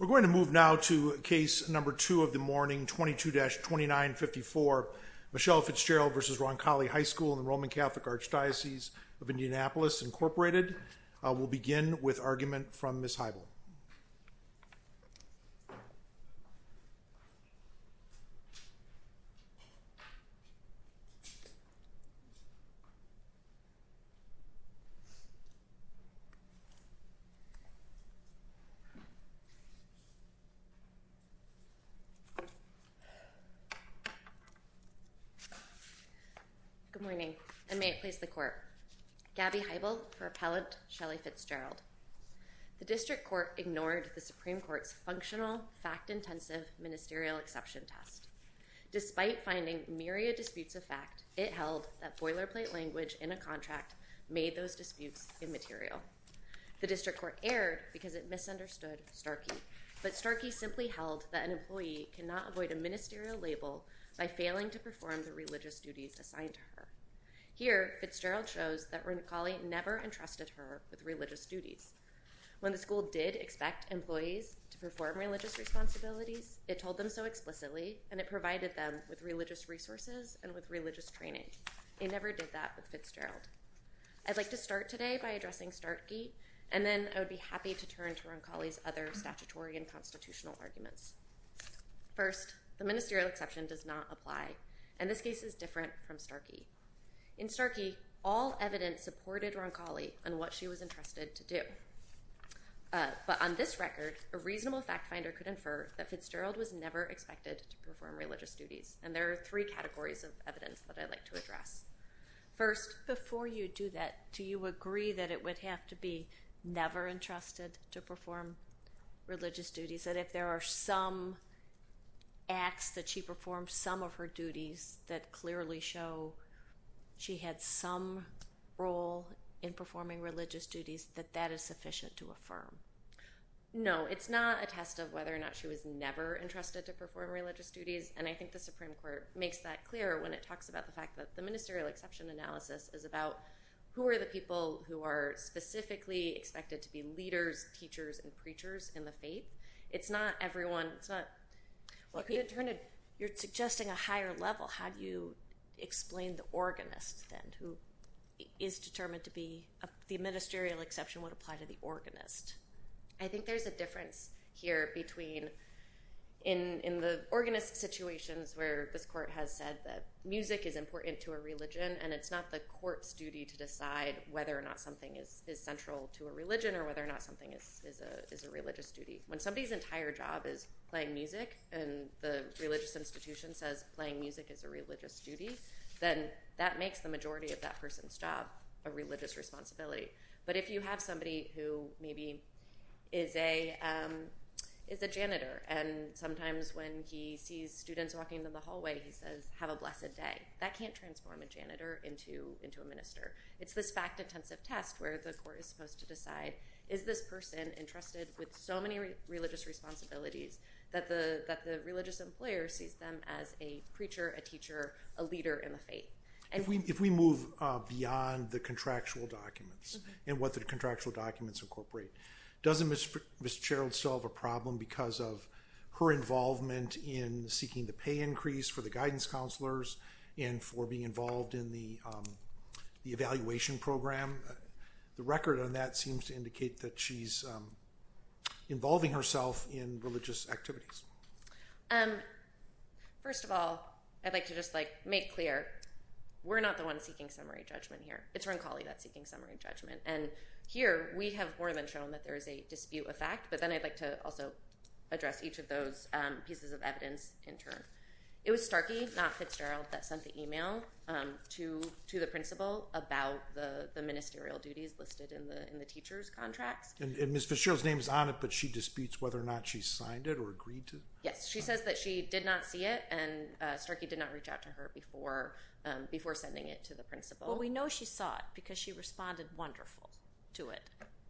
We're going to move now to Case No. 2 of the morning, 22-2954, Michelle Fitzgerald v. Roncalli High School in the Roman Catholic Archdiocese of Indianapolis, Inc. We'll begin with argument from Ms. Heibel. Good morning, and may it please the Court. Gabby Heibel for Appellant Shelley Fitzgerald. The District Court ignored the Supreme Court's functional, fact-intensive ministerial exception test. Despite finding myriad disputes of fact, it held that boilerplate language in a contract made those disputes immaterial. The District Court erred because it misunderstood Starkey, but Starkey simply held that an employee cannot avoid a ministerial label by failing to perform the religious duties assigned to her. Here, Fitzgerald shows that Roncalli never entrusted her with religious duties. When the school did expect employees to perform religious responsibilities, it told them so explicitly and it provided them with religious resources and with religious training. It never did that with Fitzgerald. I'd like to start today by addressing Starkey, and then I would be happy to turn to Roncalli's other statutory and constitutional arguments. First, the ministerial exception does not apply, and this case is different from Starkey. In Starkey, all evidence supported Roncalli on what she was entrusted to do, but on this record, a reasonable fact-finder could infer that Fitzgerald was never expected to perform religious duties, and there are three categories of evidence that I'd like to address. First, before you do that, do you agree that it would have to be never entrusted to perform religious duties, that if there are some acts that she performed, some of her duties that clearly show she had some role in performing religious duties, that that is sufficient to affirm? No, it's not a test of whether or not she was never entrusted to perform religious duties, and I think the Supreme Court makes that clear when it talks about the fact that the ministerial exception analysis is about who are the people who are specifically expected to be leaders, teachers, and preachers in the faith. It's not everyone. It's not... If you're suggesting a higher level, how do you explain the organist, then, who is determined to be...the ministerial exception would apply to the organist? I think there's a difference here between, in the organist situations where this court has said that music is important to a religion, and it's not the court's duty to decide whether or not something is central to a religion, or whether or not something is a religious duty. When somebody's entire job is playing music, and the religious institution says playing music is a religious duty, then that makes the majority of that person's job a religious responsibility. But if you have somebody who maybe is a janitor, and sometimes when he sees students walking in the hallway, he says, have a blessed day, that can't transform a janitor into a minister. It's this fact-intensive test where the court is supposed to decide, is this person interested with so many religious responsibilities that the religious employer sees them as a preacher, a teacher, a leader in the faith? If we move beyond the contractual documents, and what the contractual documents incorporate, doesn't Ms. Cheryl solve a problem because of her involvement in seeking the pay increase for the guidance counselors, and for being involved in the evaluation program? The record on that seems to indicate that she's involving herself in religious activities. First of all, I'd like to just make clear, we're not the ones seeking summary judgment here. It's Roncalli that's seeking summary judgment. And here, we have more than shown that there is a dispute of fact, but then I'd like to also address each of those pieces of evidence in turn. It was Starkey, not Fitzgerald, that sent the email to the principal about the ministerial duties listed in the teacher's contracts. And Ms. Fitzgerald's name is on it, but she disputes whether or not she signed it or agreed to it? Yes, she says that she did not see it, and Starkey did not reach out to her before sending it to the principal. Well, we know she saw it, because she responded wonderful to it.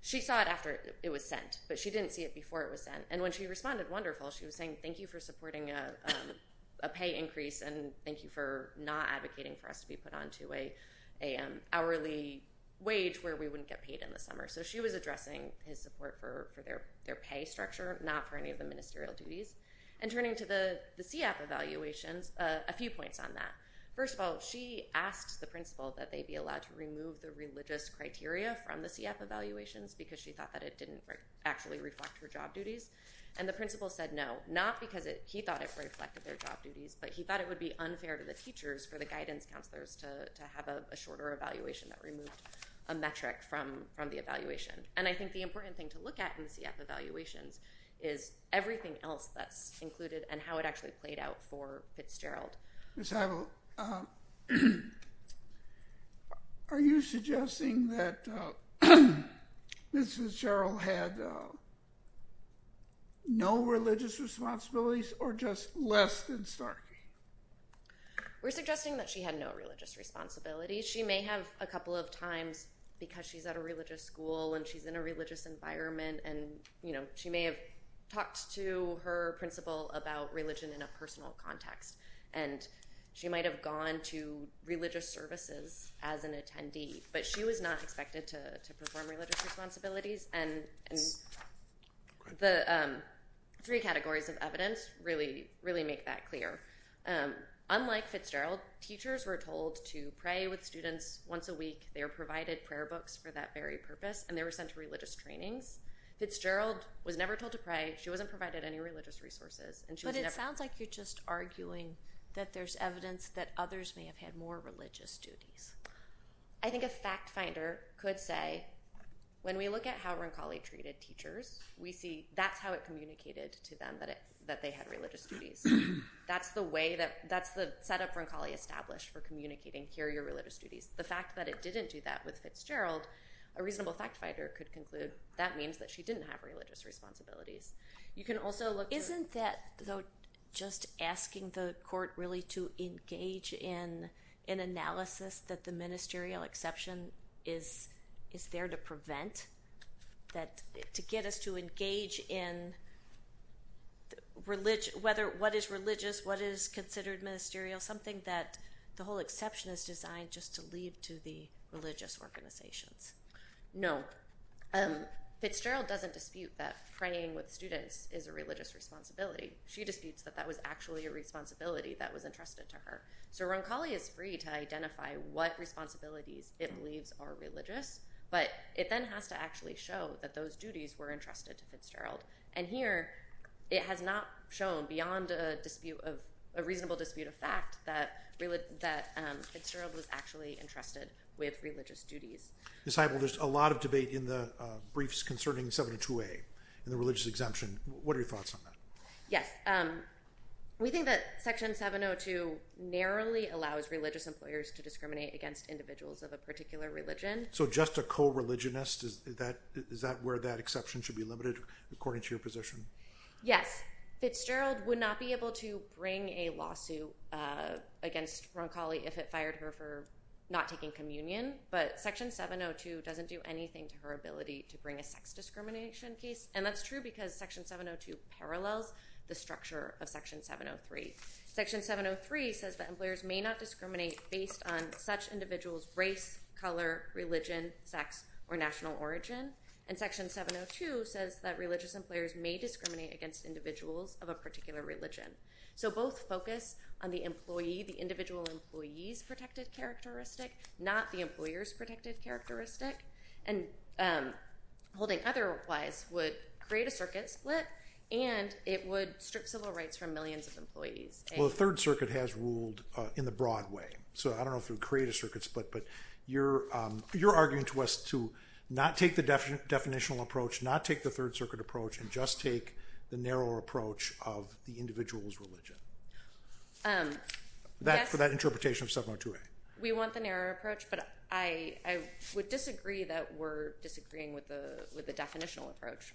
She saw it after it was sent, but she didn't see it before it was sent. And when she responded wonderful, she was saying thank you for supporting a pay increase and thank you for not advocating for us to be put onto an hourly wage where we wouldn't get paid in the summer. So she was addressing his support for their pay structure, not for any of the ministerial duties. And turning to the CEAP evaluations, a few points on that. First of all, she asked the principal that they be allowed to remove the religious criteria from the CEAP evaluations, because she thought that it didn't actually reflect her job duties. And the principal said no, not because he thought it reflected their job duties, but he thought it would be unfair to the teachers for the guidance counselors to have a shorter evaluation that removed a metric from the evaluation. And I think the important thing to look at in the CEAP evaluations is everything else that's included and how it actually played out for Fitzgerald. Ms. Heibel, are you suggesting that Mrs. Fitzgerald had no religious responsibilities or just less than Starkey? We're suggesting that she had no religious responsibilities. She may have a couple of times because she's at a religious school and she's in a religious environment and she may have talked to her principal about religion in a personal context and she might have gone to religious services as an attendee, but she was not expected to perform religious responsibilities. And the three categories of evidence really make that clear. Unlike Fitzgerald, teachers were told to pray with students once a week. They were provided prayer books for that very purpose and they were sent to religious trainings. Fitzgerald was never told to pray. She wasn't provided any religious resources. But it sounds like you're just arguing that there's evidence that others may have had more religious duties. I think a fact finder could say, when we look at how Roncalli treated teachers, we see that's how it communicated to them that they had religious duties. That's the way that, that's the setup Roncalli established for communicating, here are your religious duties. The fact that it didn't do that with Fitzgerald, a reasonable fact finder could conclude that means that she didn't have religious responsibilities. You can also look at... Isn't that though, just asking the court really to engage in an analysis that the ministerial exception is there to prevent, to get us to engage in what is religious, what is considered ministerial, something that the whole exception is designed just to lead to the religious organizations? No. Fitzgerald doesn't dispute that praying with students is a religious responsibility. She disputes that that was actually a responsibility that was entrusted to her. So Roncalli is free to identify what responsibilities it believes are religious, but it then has to actually show that those duties were entrusted to Fitzgerald. And here, it has not shown beyond a dispute of, a reasonable dispute of fact that Fitzgerald was actually entrusted with religious duties. Ms. Heibel, there's a lot of debate in the briefs concerning 702A and the religious exemption. What are your thoughts on that? Yes. We think that section 702 narrowly allows religious employers to discriminate against individuals of a particular religion. So just a co-religionist, is that where that exception should be limited according to your position? Yes. Fitzgerald would not be able to bring a lawsuit against Roncalli if it fired her for not taking communion, but section 702 doesn't do anything to her ability to bring a sex discrimination case. And that's true because section 702 parallels the structure of section 703. Section 703 says that employers may not discriminate based on such individuals' race, color, religion, sex, or national origin. And section 702 says that religious employers may discriminate against individuals of a particular religion. So both focus on the individual employee's protected characteristic, not the employer's protected characteristic. And holding otherwise would create a circuit split, and it would strip civil rights from millions of employees. Well, the Third Circuit has ruled in the broad way. So I don't know if it would create a circuit split, but you're arguing to us to not take the definitional approach, not take the Third Circuit approach, and just take the narrower approach of the individual's religion for that interpretation of 702A. We want the narrower approach, but I would disagree that we're disagreeing with the definitional approach.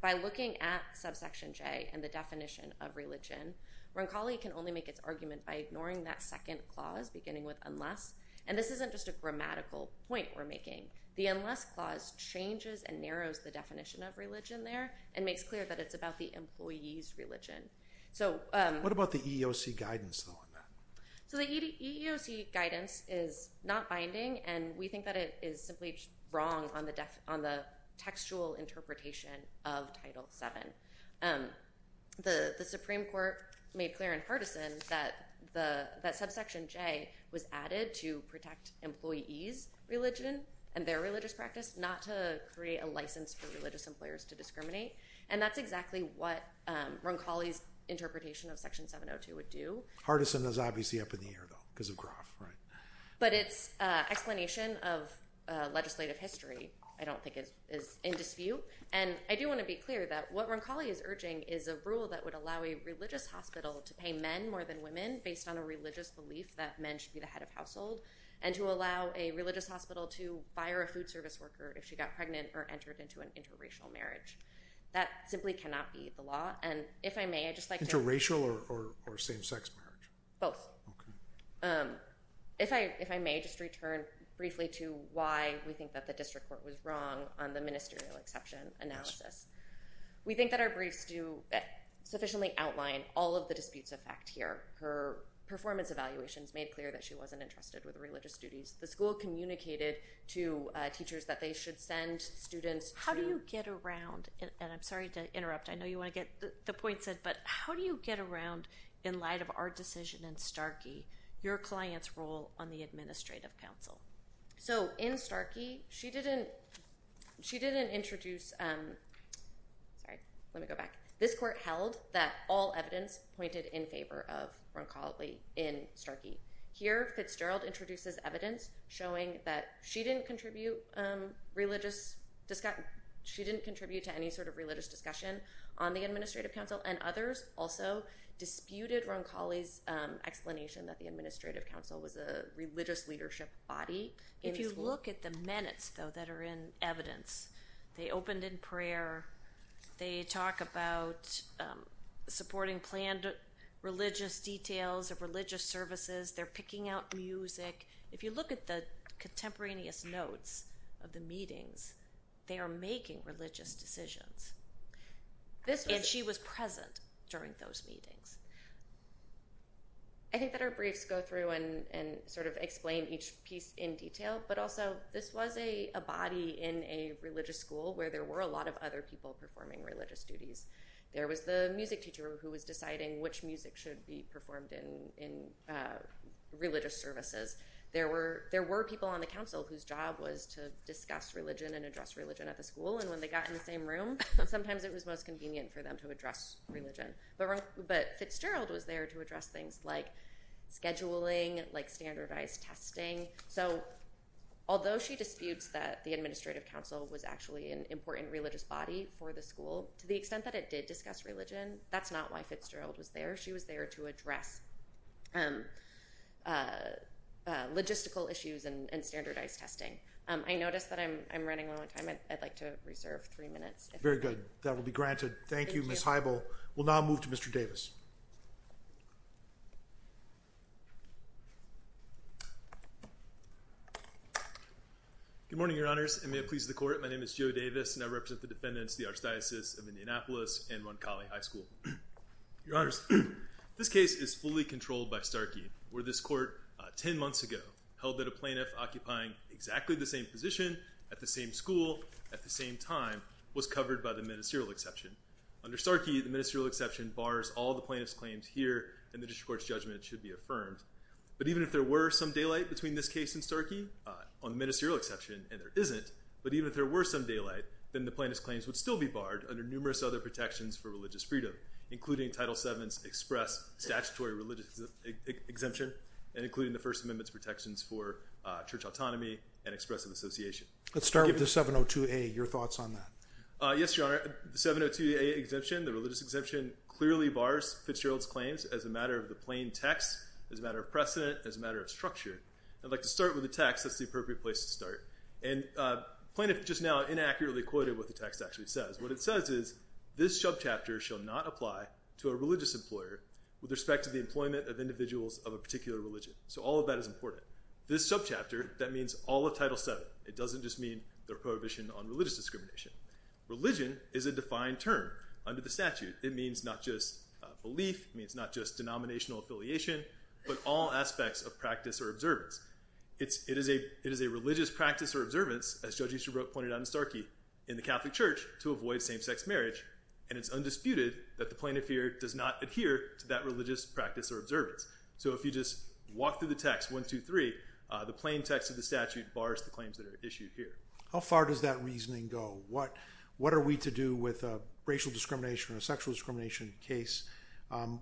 By looking at subsection J and the definition of religion, Roncalli can only make its argument by ignoring that second clause beginning with unless. And this isn't just a grammatical point we're making. The unless clause changes and narrows the definition of religion there and makes clear that it's about the employee's religion. What about the EEOC guidance on that? So the EEOC guidance is not binding, and we think that it is simply wrong on the textual interpretation of Title VII. The Supreme Court made clear and partisan that subsection J was added to protect employee's religion and their religious practice, not to create a license for religious employers to discriminate. And that's exactly what Roncalli's interpretation of Section 702 would do. Partisan is obviously up in the air, though, because of Groff, right? But its explanation of legislative history, I don't think, is in dispute. And I do want to be clear that what Roncalli is urging is a rule that would allow a religious hospital to pay men more than women based on a religious belief that men should be the head of household, and to allow a religious hospital to fire a food service worker if she got pregnant or entered into an interracial marriage. That simply cannot be the law. And if I may, I'd just like to— Interracial or same-sex marriage? Both. If I may just return briefly to why we think that the district court was wrong on the ministerial exception analysis. We think that our briefs do sufficiently outline all of the disputes of fact here. Her performance evaluations made clear that she wasn't interested with religious duties. The school communicated to teachers that they should send students to— I'm sorry to interrupt. I know you want to get the point said, but how do you get around, in light of our decision in Starkey, your client's role on the administrative council? So, in Starkey, she didn't introduce— Sorry, let me go back. This court held that all evidence pointed in favor of Roncalli in Starkey. Here, Fitzgerald introduces evidence showing that she didn't contribute to any sort of discussion on the administrative council, and others also disputed Roncalli's explanation that the administrative council was a religious leadership body in the school. If you look at the minutes, though, that are in evidence, they opened in prayer. They talk about supporting planned religious details of religious services. They're picking out music. If you look at the contemporaneous notes of the meetings, they are making religious decisions. And she was present during those meetings. I think that our briefs go through and sort of explain each piece in detail, but also, this was a body in a religious school where there were a lot of other people performing religious duties. There was the music teacher who was deciding which music should be performed in religious services. There were people on the council whose job was to discuss religion and address religion at the school. And when they got in the same room, sometimes it was most convenient for them to address religion. But Fitzgerald was there to address things like scheduling, like standardized testing. So although she disputes that the administrative council was actually an important religious body for the school, to the extent that it did discuss religion, that's not why Fitzgerald was there. She was there to address logistical issues and standardized testing. I noticed that I'm running low on time. I'd like to reserve three minutes. If that's all right. Very good. That will be granted. Thank you, Ms. Heibel. We'll now move to Mr. Davis. Good morning, Your Honors. And may it please the Court. My name is Joe Davis, and I represent the defendants, the Archdiocese of Indianapolis and Roncalli High School. Your Honors, this case is fully controlled by Starkey, where this Court, 10 months ago, held that a plaintiff occupying exactly the same position, at the same school, at the same time, was covered by the ministerial exception. Under Starkey, the ministerial exception bars all the plaintiff's claims here, and the district court's judgment should be affirmed. But even if there were some daylight between this case and Starkey, on the ministerial exception, and there isn't, but even if there were some daylight, then the plaintiff's claims would still be barred under numerous other protections for religious freedom, including Title VII's express statutory religious exemption, and including the First Amendment protections for church autonomy and expressive association. Let's start with the 702A. Your thoughts on that. Yes, Your Honor. The 702A exemption, the religious exemption, clearly bars Fitzgerald's claims as a matter of the plain text, as a matter of precedent, as a matter of structure. I'd like to start with the text. That's the appropriate place to start. And plaintiff just now inaccurately quoted what the text actually says. What it says is, this subchapter shall not apply to a religious employer with respect to the employment of individuals of a particular religion. So all of that is important. This subchapter, that means all of Title VII. It doesn't just mean their prohibition on religious discrimination. Religion is a defined term under the statute. It means not just belief, it means not just denominational affiliation, but all aspects of practice or observance. It is a religious practice or observance, as Judge Easterbrook pointed out in Starkey, in the Catholic Church to avoid same-sex marriage, and it's undisputed that the plaintiff here does not adhere to that religious practice or observance. So if you just walk through the text, 1, 2, 3, the plain text of the statute bars the claims that are issued here. How far does that reasoning go? What are we to do with a racial discrimination or a sexual discrimination case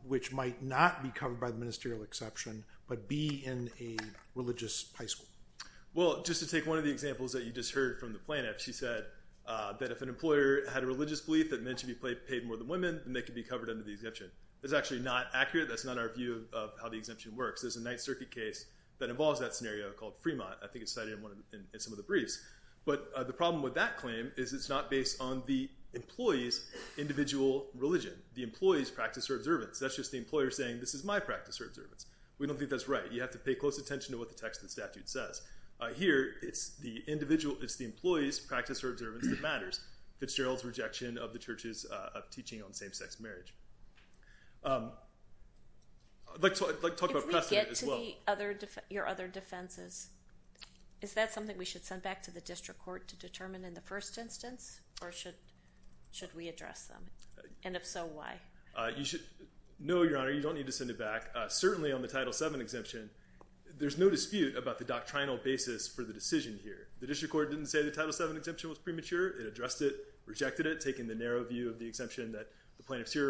which might not be covered by the ministerial exception, but be in a religious high school? Well, just to take one of the examples that you just heard from the plaintiff, she said that if an employer had a religious belief that men should be paid more than women, then they could be covered under the exemption. That's actually not accurate. That's not our view of how the exemption works. There's a Ninth Circuit case that involves that scenario called Fremont. I think it's cited in some of the briefs. But the problem with that claim is it's not based on the employee's individual religion, the employee's practice or observance. That's just the employer saying, this is my practice or observance. We don't think that's right. You have to pay close attention to what the text of the statute says. Here, it's the employee's practice or observance that matters. Fitzgerald's rejection of the Church's teaching on same-sex marriage. I'd like to talk about precedent as well. If we get to your other defenses, is that something we should send back to the district court to determine in the first instance? Or should we address them? And if so, why? No, Your Honor. You don't need to send it back. Certainly, on the Title VII exemption, there's no dispute about the doctrinal basis for the decision here. The district court didn't say the Title VII exemption was premature. here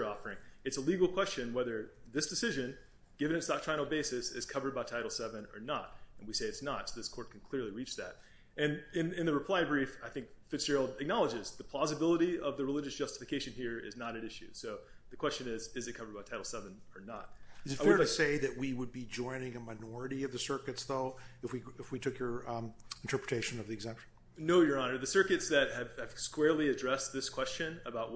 are offering. It's a legal question whether this decision, given its doctrinal basis, is covered by Title VII or not. And we say it's not. So this court can clearly reach that. And in the reply brief, I think Fitzgerald acknowledges the plausibility of the religious justification here is not at issue. So the question is, is it covered by Title VII or not? Is it fair to say that we would be joining a minority of the circuits, though, if we took your interpretation of the exemption? No, Your Honor. The circuits that have squarely addressed this question about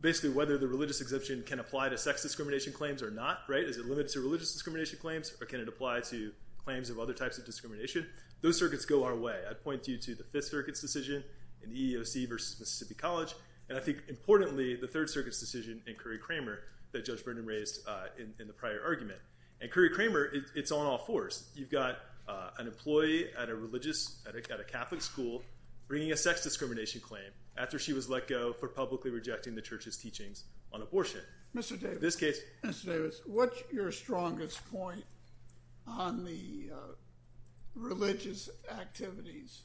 basically whether the exemption can apply to sex discrimination claims or not, is it limited to religious discrimination claims? Or can it apply to claims of other types of discrimination? Those circuits go our way. I'd point you to the Fifth Circuit's decision in the EEOC versus Mississippi College. And I think, importantly, the Third Circuit's decision in Curry-Kramer that Judge Brendan raised in the prior argument. And Curry-Kramer, it's on all fours. You've got an employee at a Catholic school bringing a sex discrimination claim after she was let go for publicly rejecting the church's teachings on abortion. Mr. Davis. In this case. Mr. Davis, what's your strongest point on the religious activities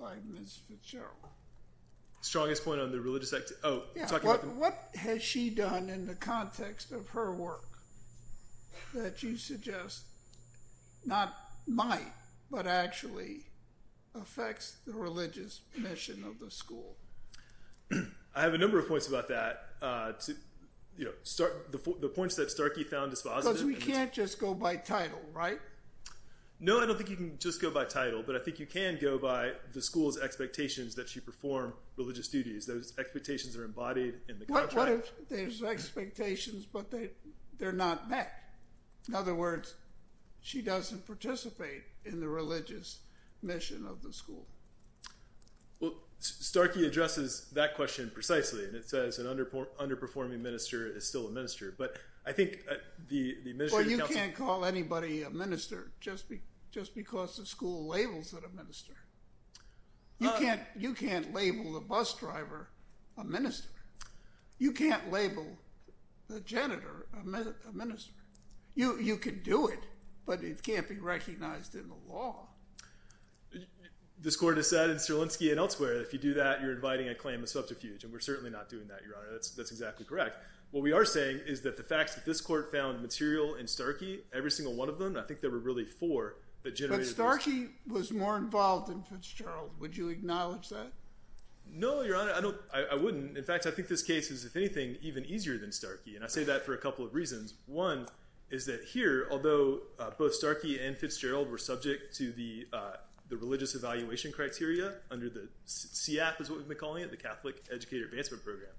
by Ms. Fitzgerald? Strongest point on the religious activities? Oh, talking about the— What has she done in the context of her work that you suggest not might but actually affects the religious mission of the school? I have a number of points about that. The points that Starkey found dispositive— Because we can't just go by title, right? No, I don't think you can just go by title. But I think you can go by the school's expectations that she perform religious duties. Those expectations are embodied in the contract. What if there's expectations but they're not met? In other words, she doesn't participate in the religious mission of the school. Well, Starkey addresses that question precisely. And it says an underperforming minister is still a minister. But I think the minister— Well, you can't call anybody a minister just because the school labels it a minister. You can't label the bus driver a minister. You can't label the janitor a minister. You can do it, but it can't be recognized in the law. This Court has said in Strelinsky and elsewhere, if you do that, you're inviting a claim of subterfuge. And we're certainly not doing that, Your Honor. That's exactly correct. What we are saying is that the facts that this Court found material in Starkey, every single one of them, I think there were really four that generated— But Starkey was more involved than Fitzgerald. Would you acknowledge that? No, Your Honor, I wouldn't. In fact, I think this case is, if anything, even easier than Starkey. And I say that for a couple of reasons. One is that here, although both Starkey and Fitzgerald were subject to the religious evaluation criteria under the— CEAP is what we've been calling it, the Catholic Educator Advancement Program.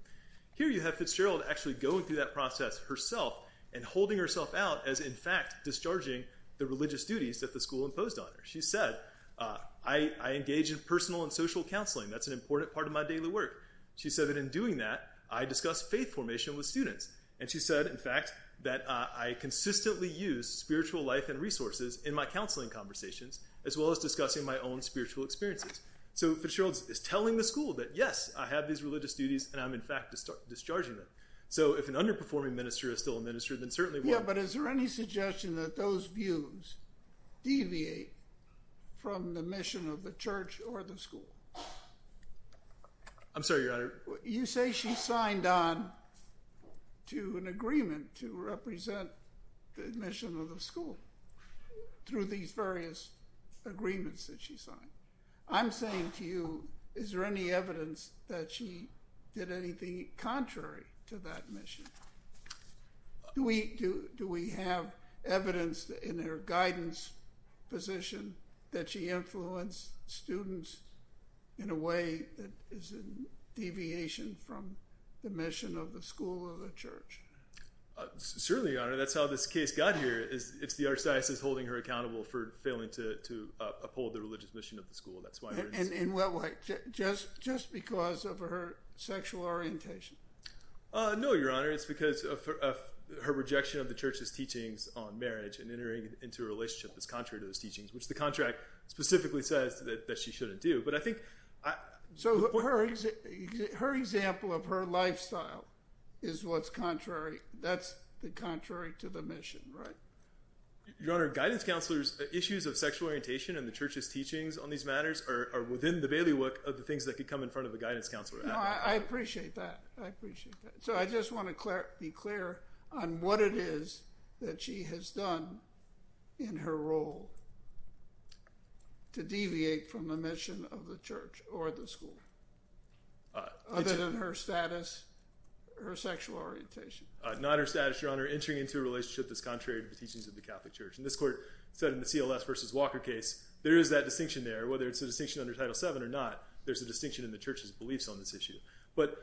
Here you have Fitzgerald actually going through that process herself and holding herself out as, in fact, discharging the religious duties that the school imposed on her. She said, I engage in personal and social counseling. That's an important part of my daily work. She said that in doing that, I discuss faith formation with students. And she said, in fact, that I consistently use spiritual life and resources in my counseling conversations, as well as discussing my own spiritual experiences. So Fitzgerald is telling the school that, yes, I have these religious duties, and I'm, in fact, discharging them. So if an underperforming minister is still a minister, then certainly— Yeah, but is there any suggestion that those views deviate from the mission of the church or the school? I'm sorry, Your Honor. You say she signed on to an agreement to represent the mission of the school. Through these various agreements that she signed. I'm saying to you, is there any evidence that she did anything contrary to that mission? Do we have evidence in her guidance position that she influenced students in a way that is a deviation from the mission of the school or the church? Certainly, Your Honor. That's how this case got here. It's the archdiocese holding her accountable for failing to uphold the religious mission of the school. That's why— In what way? Just because of her sexual orientation? No, Your Honor. It's because of her rejection of the church's teachings on marriage and entering into a relationship that's contrary to those teachings, which the contract specifically says that she shouldn't do. But I think— So her example of her lifestyle is what's contrary— that's contrary to the mission, right? Your Honor, guidance counselors' issues of sexual orientation and the church's teachings on these matters are within the bailiwick of the things that could come in front of a guidance counselor. No, I appreciate that. I appreciate that. So I just want to be clear on what it is that she has done in her role to deviate from the mission of the church or the school, Not her status, Your Honor. entering into a relationship that's contrary to the teachings of the Catholic Church. And this court said in the CLS v. Walker case, there is that distinction there. Whether it's a distinction under Title VII or not, there's a distinction in the church's beliefs on this issue. But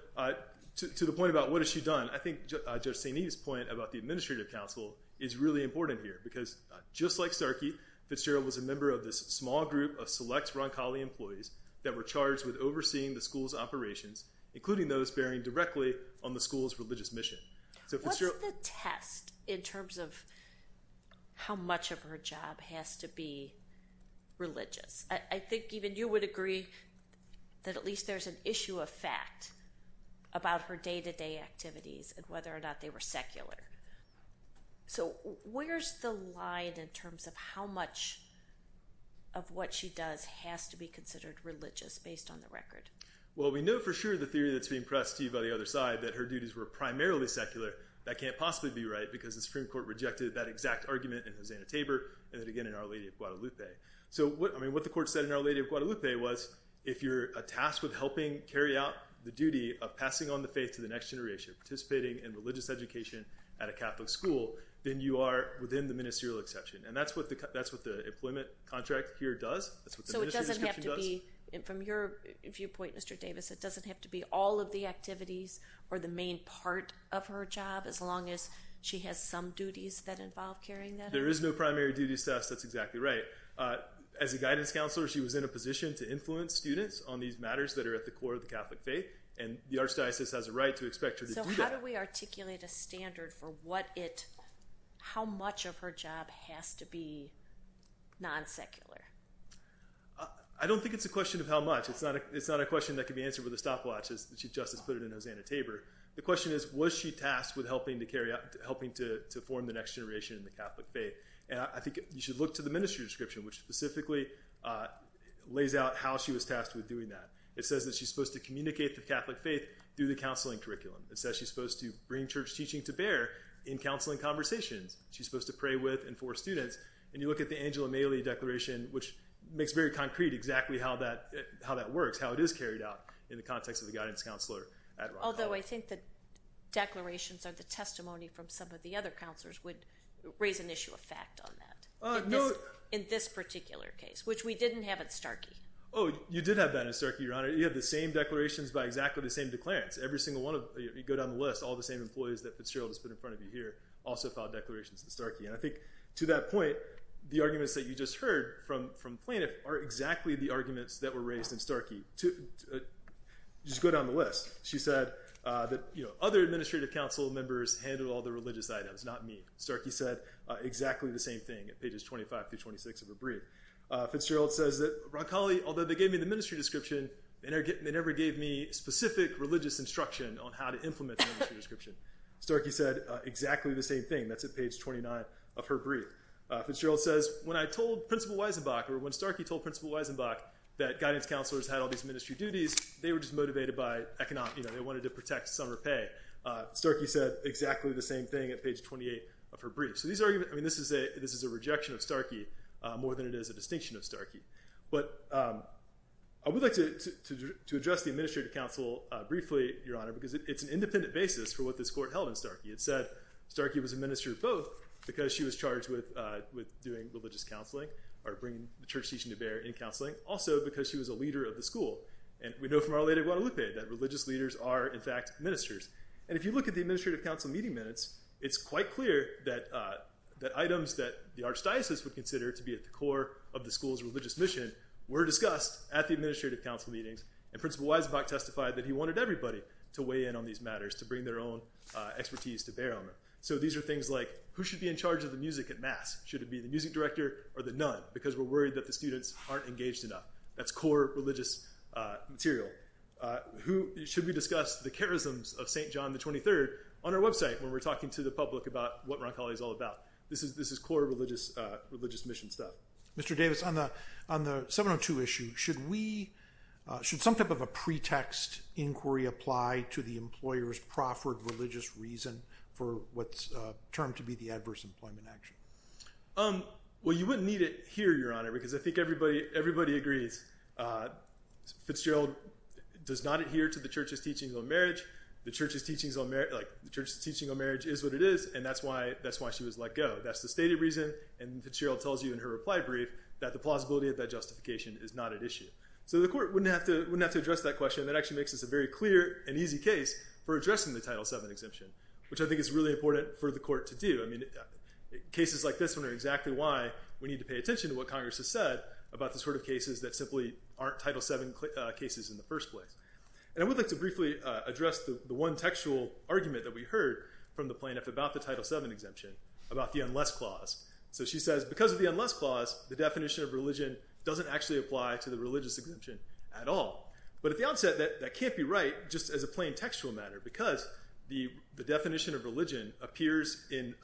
to the point about what has she done, I think Judge St. Edith's point about the administrative counsel is really important here because just like Starkey, Fitzgerald was a member of this small group of select Roncalli employees that were charged with overseeing the school's operations, including those bearing directly on the school's religious mission. What's the test in terms of how much of her job has to be religious? I think even you would agree that at least there's an issue of fact about her day-to-day activities and whether or not they were secular. So where's the line in terms of how much of what she does has to be considered religious based on the record? Well, we know for sure the theory that's being pressed to you by the other side that her duties were primarily secular. That can't possibly be right because the Supreme Court rejected that exact argument in Hosanna Tabor and then again in Our Lady of Guadalupe. So what the court said in Our Lady of Guadalupe was if you're tasked with helping carry out the duty of passing on the faith to the next generation, participating in religious education at a Catholic school, then you are within the ministerial exception. And that's what the employment contract here does. From your viewpoint, Mr. Davis, it doesn't have to be all of the activities or the main part of her job as long as she has some duties that involve carrying that out? There is no primary duties, Tess. That's exactly right. As a guidance counselor, she was in a position to influence students on these matters that are at the core of the Catholic faith and the Archdiocese has a right to expect her to do that. So how do we articulate a standard for how much of her job has to be non-secular? I don't think it's a question of how much. It's not a question that can be answered with a stopwatch as Justice put it in Hosanna Tabor. The question is, was she tasked with helping to carry out, helping to form the next generation in the Catholic faith? And I think you should look to the ministry description which specifically lays out how she was tasked with doing that. It says that she's supposed to communicate the Catholic faith through the counseling curriculum. It says she's supposed to bring church teaching to bear in counseling conversations. She's supposed to pray with and for students. And you look at the Angela Maley Declaration, which makes very concrete exactly how that works, how it is carried out in the context of the guidance counselor at Ron Hall. Although I think the declarations or the testimony from some of the other counselors would raise an issue of fact on that. In this particular case, which we didn't have at Starkey. Oh, you did have that at Starkey, Your Honor. You have the same declarations by exactly the same declarants. Every single one of, you go down the list, all the same employees that Fitzgerald has put in front of you here also filed declarations at Starkey. And I think to that point, the arguments that you just heard from plaintiff are exactly the arguments that were raised in Starkey. Just go down the list. She said that other administrative council members handled all the religious items, not me. Starkey said exactly the same thing at pages 25 through 26 of her brief. Fitzgerald says that, Ron Colley, although they gave me the ministry description, they never gave me specific religious instruction on how to implement the ministry description. Starkey said exactly the same thing. That's at page 29 of her brief. Fitzgerald says, when I told Principal Weisenbacher, when Starkey told Principal Weisenbach that guidance counselors had all these ministry duties, they were just motivated by economic. They wanted to protect summer pay. Starkey said exactly the same thing at page 28 of her brief. So these arguments, I mean, this is a rejection of Starkey more than it is a distinction of Starkey. But I would like to address the administrative council briefly, Your Honor, because it's an independent basis for what this court held in Starkey. It said Starkey was a minister of both because she was charged with doing religious counseling, or bringing the church teaching to bear in counseling, also because she was a leader of the school. And we know from Our Lady of Guadalupe that religious leaders are, in fact, ministers. And if you look at the administrative council meeting minutes, it's quite clear that items that the archdiocese would consider to be at the core of the school's religious mission were discussed at the administrative council meetings. And Principal Weisenbach testified that he wanted everybody to weigh in on these matters, to bring their own expertise to bear on them. So these are things like, who should be in charge of the music at mass? Should it be the music director or the nun? Because we're worried that the students aren't engaged enough. That's core religious material. Should we discuss the charisms of St. John XXIII on our website when we're talking to the public about what Roncalli is all about? This is core religious mission stuff. Mr. Davis, on the 702 issue, should some type of a pretext inquiry apply to the employer's proffered religious reason for what's termed to be the adverse employment action? Well, you wouldn't need it here, Your Honor, because I think everybody agrees. Fitzgerald does not adhere to the church's teachings on marriage. The church's teachings on marriage is what it is, and that's why she was let go. That's the stated reason. And Fitzgerald tells you in her reply brief that the plausibility of that justification is not at issue. So the court wouldn't have to address that question. That actually makes this a very clear and easy case for addressing the Title VII exemption, which I think is really important for the court to do. Cases like this one are exactly why we need to pay attention to what Congress has said about the sort of cases that simply aren't Title VII cases in the first place. And I would like to briefly address the one textual argument that we heard from the plaintiff about the Title VII exemption, about the unless clause. So she says, because of the unless clause, the definition of religion doesn't actually apply to the religious exemption at all. But at the onset, that can't be right, just as a plain textual matter, because the definition of religion appears in,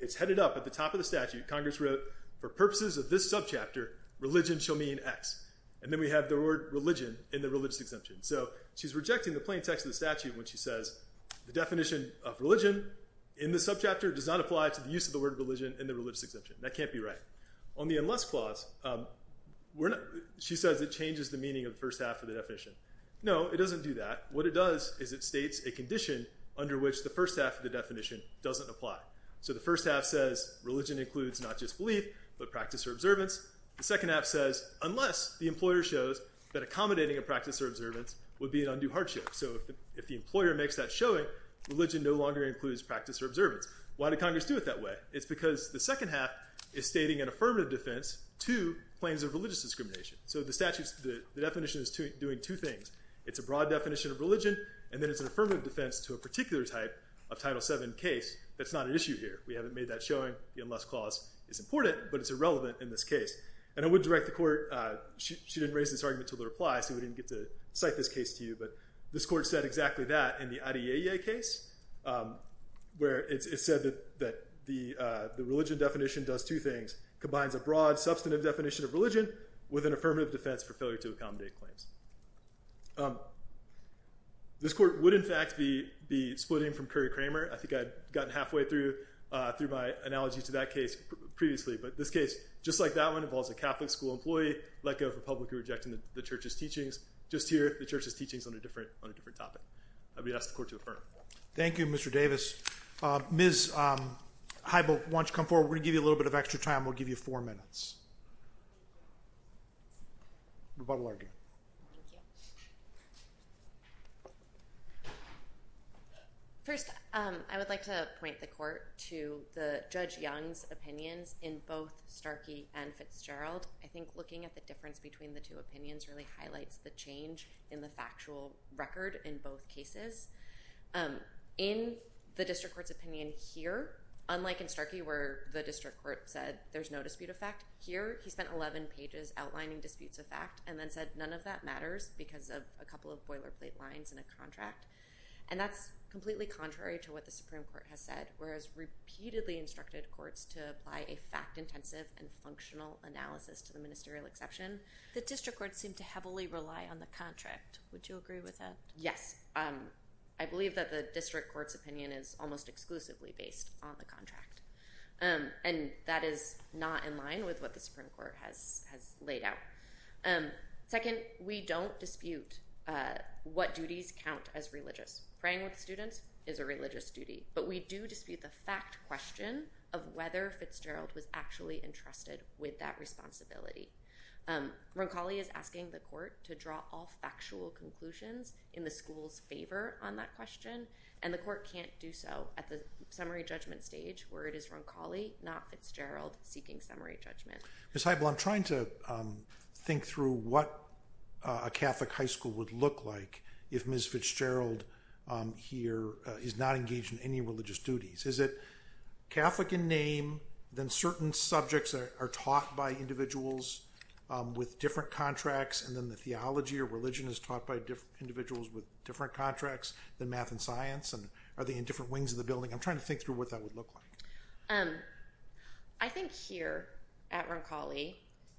it's headed up at the top of the statute. Congress wrote, for purposes of this subchapter, religion shall mean X. And then we have the word religion in the religious exemption. So she's rejecting the plain text of the statute when she says the definition of religion in the subchapter does not apply to the use of the word religion in the religious exemption. That can't be right. On the unless clause, she says it changes the meaning of the first half of the definition. No, it doesn't do that. What it does is it states a condition under which the first half of the definition doesn't apply. So the first half says religion includes not just belief, but practice or observance. The second half says unless the employer shows that accommodating a practice or observance would be an undue hardship. So if the employer makes that showing, religion no longer includes practice or observance. Why did Congress do it that way? It's because the second half is stating an affirmative defense to claims of religious discrimination. So the definition is doing two things. It's a broad definition of religion, and then it's an affirmative defense to a particular type of Title VII case. That's not an issue here. We haven't made that showing. The unless clause is important, but it's irrelevant in this case. And I would direct the court, she didn't raise this argument to the reply, so we didn't get to cite this case to you. But this court said exactly that in the Adeyeye case, where it said that the religion definition does two things. Combines a broad, substantive definition of religion with an affirmative defense for failure to accommodate claims. This court would, in fact, be splitting from Curry-Kramer. I think I'd gotten halfway through my analogy to that case previously. But this case, just like that one, involves a Catholic school employee let go of a publicly rejecting the church's teachings. Just here, the church's teachings on a different topic. I'd be asking the court to affirm. Thank you, Mr. Davis. Ms. Heibel, why don't you come forward? We're going to give you a little bit of extra time. We'll give you four minutes. You're welcome to argue. Thank you. First, I would like to point the court to the Judge Young's opinions in both Starkey and Fitzgerald. I think looking at the difference between the two opinions really highlights the change in the factual record in both cases. In the district court's opinion here, unlike in Starkey where the district court said there's no dispute of fact, here he spent 11 pages outlining disputes of fact and then said none of that matters because of a couple of boilerplate lines in a contract. And that's completely contrary to what the Supreme Court has said, whereas repeatedly instructed courts to apply a fact-intensive and functional analysis to the ministerial exception. The district court seemed to heavily rely on the contract. Would you agree with that? Yes. I believe that the district court's opinion is almost exclusively based on the contract. And that is not in line with what the Supreme Court has laid out. Second, we don't dispute what duties count as religious. Praying with students is a religious duty. But we do dispute the fact question of whether Fitzgerald was actually entrusted with that responsibility. Roncalli is asking the court to draw all factual conclusions in the school's favor on that question, and the court can't do so. At the summary judgment stage, where it is Roncalli, not Fitzgerald, seeking summary judgment. Ms. Heibl, I'm trying to think through what a Catholic high school would look like if Ms. Fitzgerald here is not engaged in any religious duties. Is it Catholic in name, then certain subjects are taught by individuals with different contracts, and then the theology or religion is taught by individuals with different contracts than math and science? And are they in different wings of the building? I'm trying to think through what that would look like. I think here at Roncalli,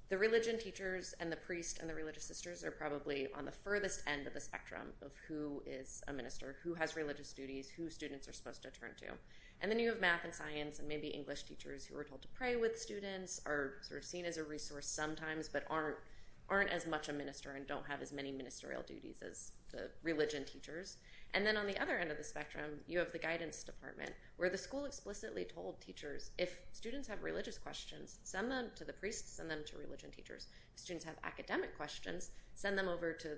the religion teachers and the priest and the religious sisters are probably on the furthest end of the spectrum of who is a minister, who has religious duties, who students are supposed to turn to. And then you have math and science and maybe English teachers who are told to pray with students, are sort of seen as a resource sometimes, but aren't as much a minister and don't have as many ministerial duties as the religion teachers. And then on the other end of the spectrum, you have the guidance department, where the school explicitly told teachers, if students have religious questions, send them to the priests, send them to religion teachers. If students have academic questions, send them over to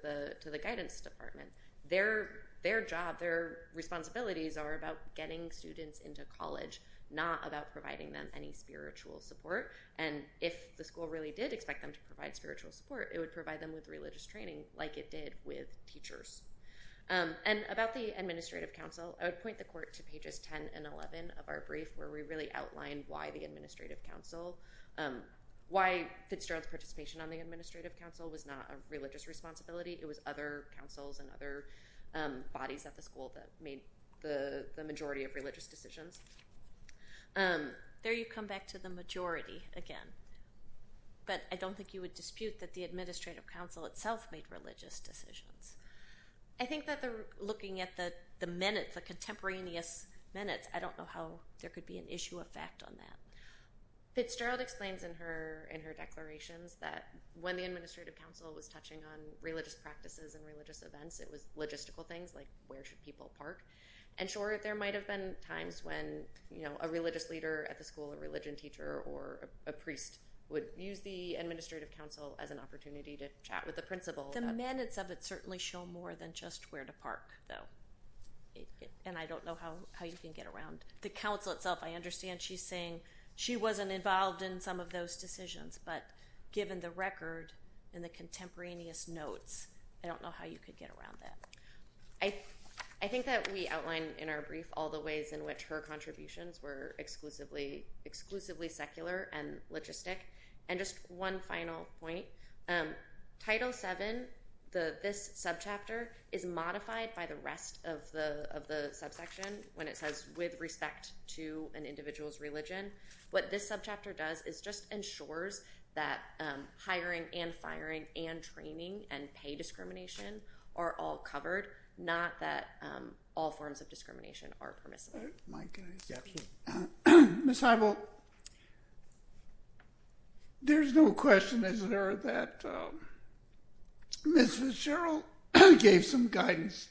the guidance department. Their job, their responsibilities are about getting students into college, not about providing them any spiritual support. And if the school really did expect them to provide spiritual support, it would provide them with religious training like it did with teachers. And about the administrative council, I would point the court to pages 10 and 11 of our brief, where we really outlined why the administrative council, why Fitzgerald's participation on the administrative council was not a religious responsibility, it was other councils and other bodies at the school that made the majority of religious decisions. There you come back to the majority again. But I don't think you would dispute that the administrative council itself made religious decisions. I think that they're looking at the minutes, the contemporaneous minutes. I don't know how there could be an issue of fact on that. Fitzgerald explains in her declarations that when the administrative council was touching on religious practices and religious events, it was logistical things like where should people park. And sure, there might have been times when a religious leader at the school, a religion teacher or a priest would use the administrative council as an opportunity to chat with the principal. The minutes of it certainly show more than just where to park though. And I don't know how you can get around. The council itself, I understand she's saying she wasn't involved in some of those decisions, but given the record and the contemporaneous notes, I don't know how you could get around that. I think that we outlined in our brief all the ways in which her contributions were exclusively secular and logistic. And just one final point. Title VII, this subchapter is modified by the rest of the subsection when it says with respect to an individual's religion. What this subchapter does is just ensures that hiring and firing and training and pay discrimination are all covered, not that all forms of discrimination are permissible. My goodness. Subchapter. Ms. Heibel, there's no question, is there, that Ms. Fitzgerald gave some guidance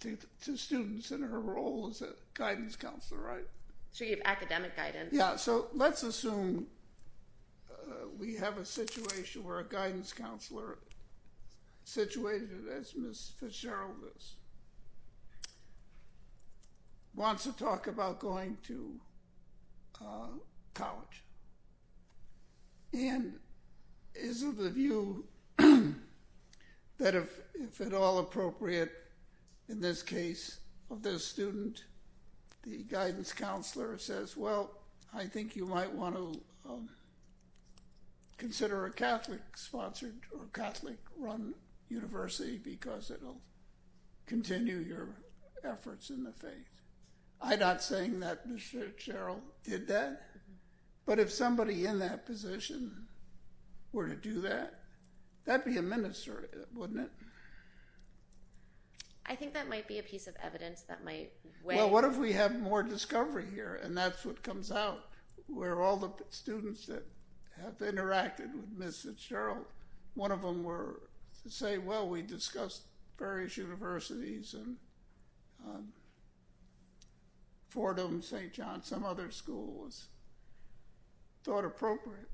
to students in her role as a guidance counselor, right? So you have academic guidance. Yeah, so let's assume we have a situation where a guidance counselor situated as Ms. Fitzgerald is wants to talk about going to college. And is of the view that if at all appropriate in this case of this student, the guidance counselor says, well, I think you might want to consider a Catholic-sponsored or Catholic-run university because it'll continue your efforts in the faith. I'm not saying that Ms. Fitzgerald did that, but if somebody in that position were to do that, that'd be a ministry, wouldn't it? I think that might be a piece of evidence that might weigh. Well, what if we have more discovery here? And that's what comes out where all the students that have interacted with Ms. Fitzgerald, one of them were to say, well, we discussed various universities and Fordham, St. John, some other schools thought appropriate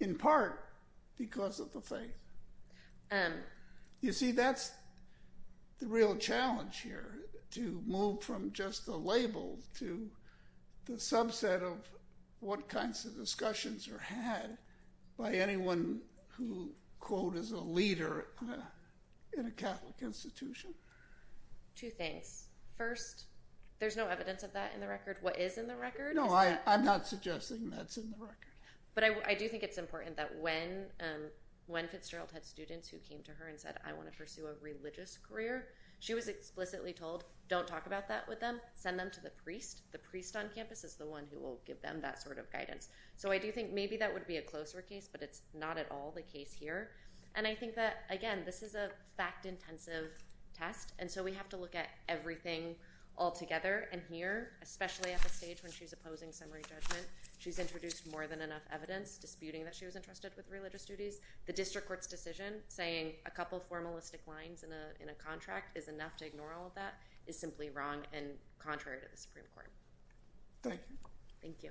in part because of the faith. And you see, that's the real challenge here to move from just a label to the subset of what kinds of discussions are had by anyone who, quote, is a leader in a Catholic institution. Two things. First, there's no evidence of that in the record. What is in the record? No, I'm not suggesting that's in the record. But I do think it's important that when Fitzgerald had students who came to her and said, I want to pursue a religious career, she was explicitly told, don't talk about that with them. Send them to the priest. The priest on campus is the one who will give them that sort of guidance. So I do think maybe that would be a closer case, but it's not at all the case here. And I think that, again, this is a fact-intensive test. And so we have to look at everything altogether. And here, especially at the stage when she's opposing summary judgment, she's introduced more than enough evidence disputing that she was entrusted with religious duties. The district court's decision saying a couple formalistic lines in a contract is enough to ignore all of that is simply wrong and contrary to the Supreme Court. Thank you. Thank you.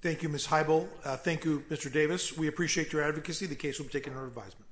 Thank you, Ms. Heibel. Thank you, Mr. Davis. We appreciate your advocacy. The case will be taken under advisement.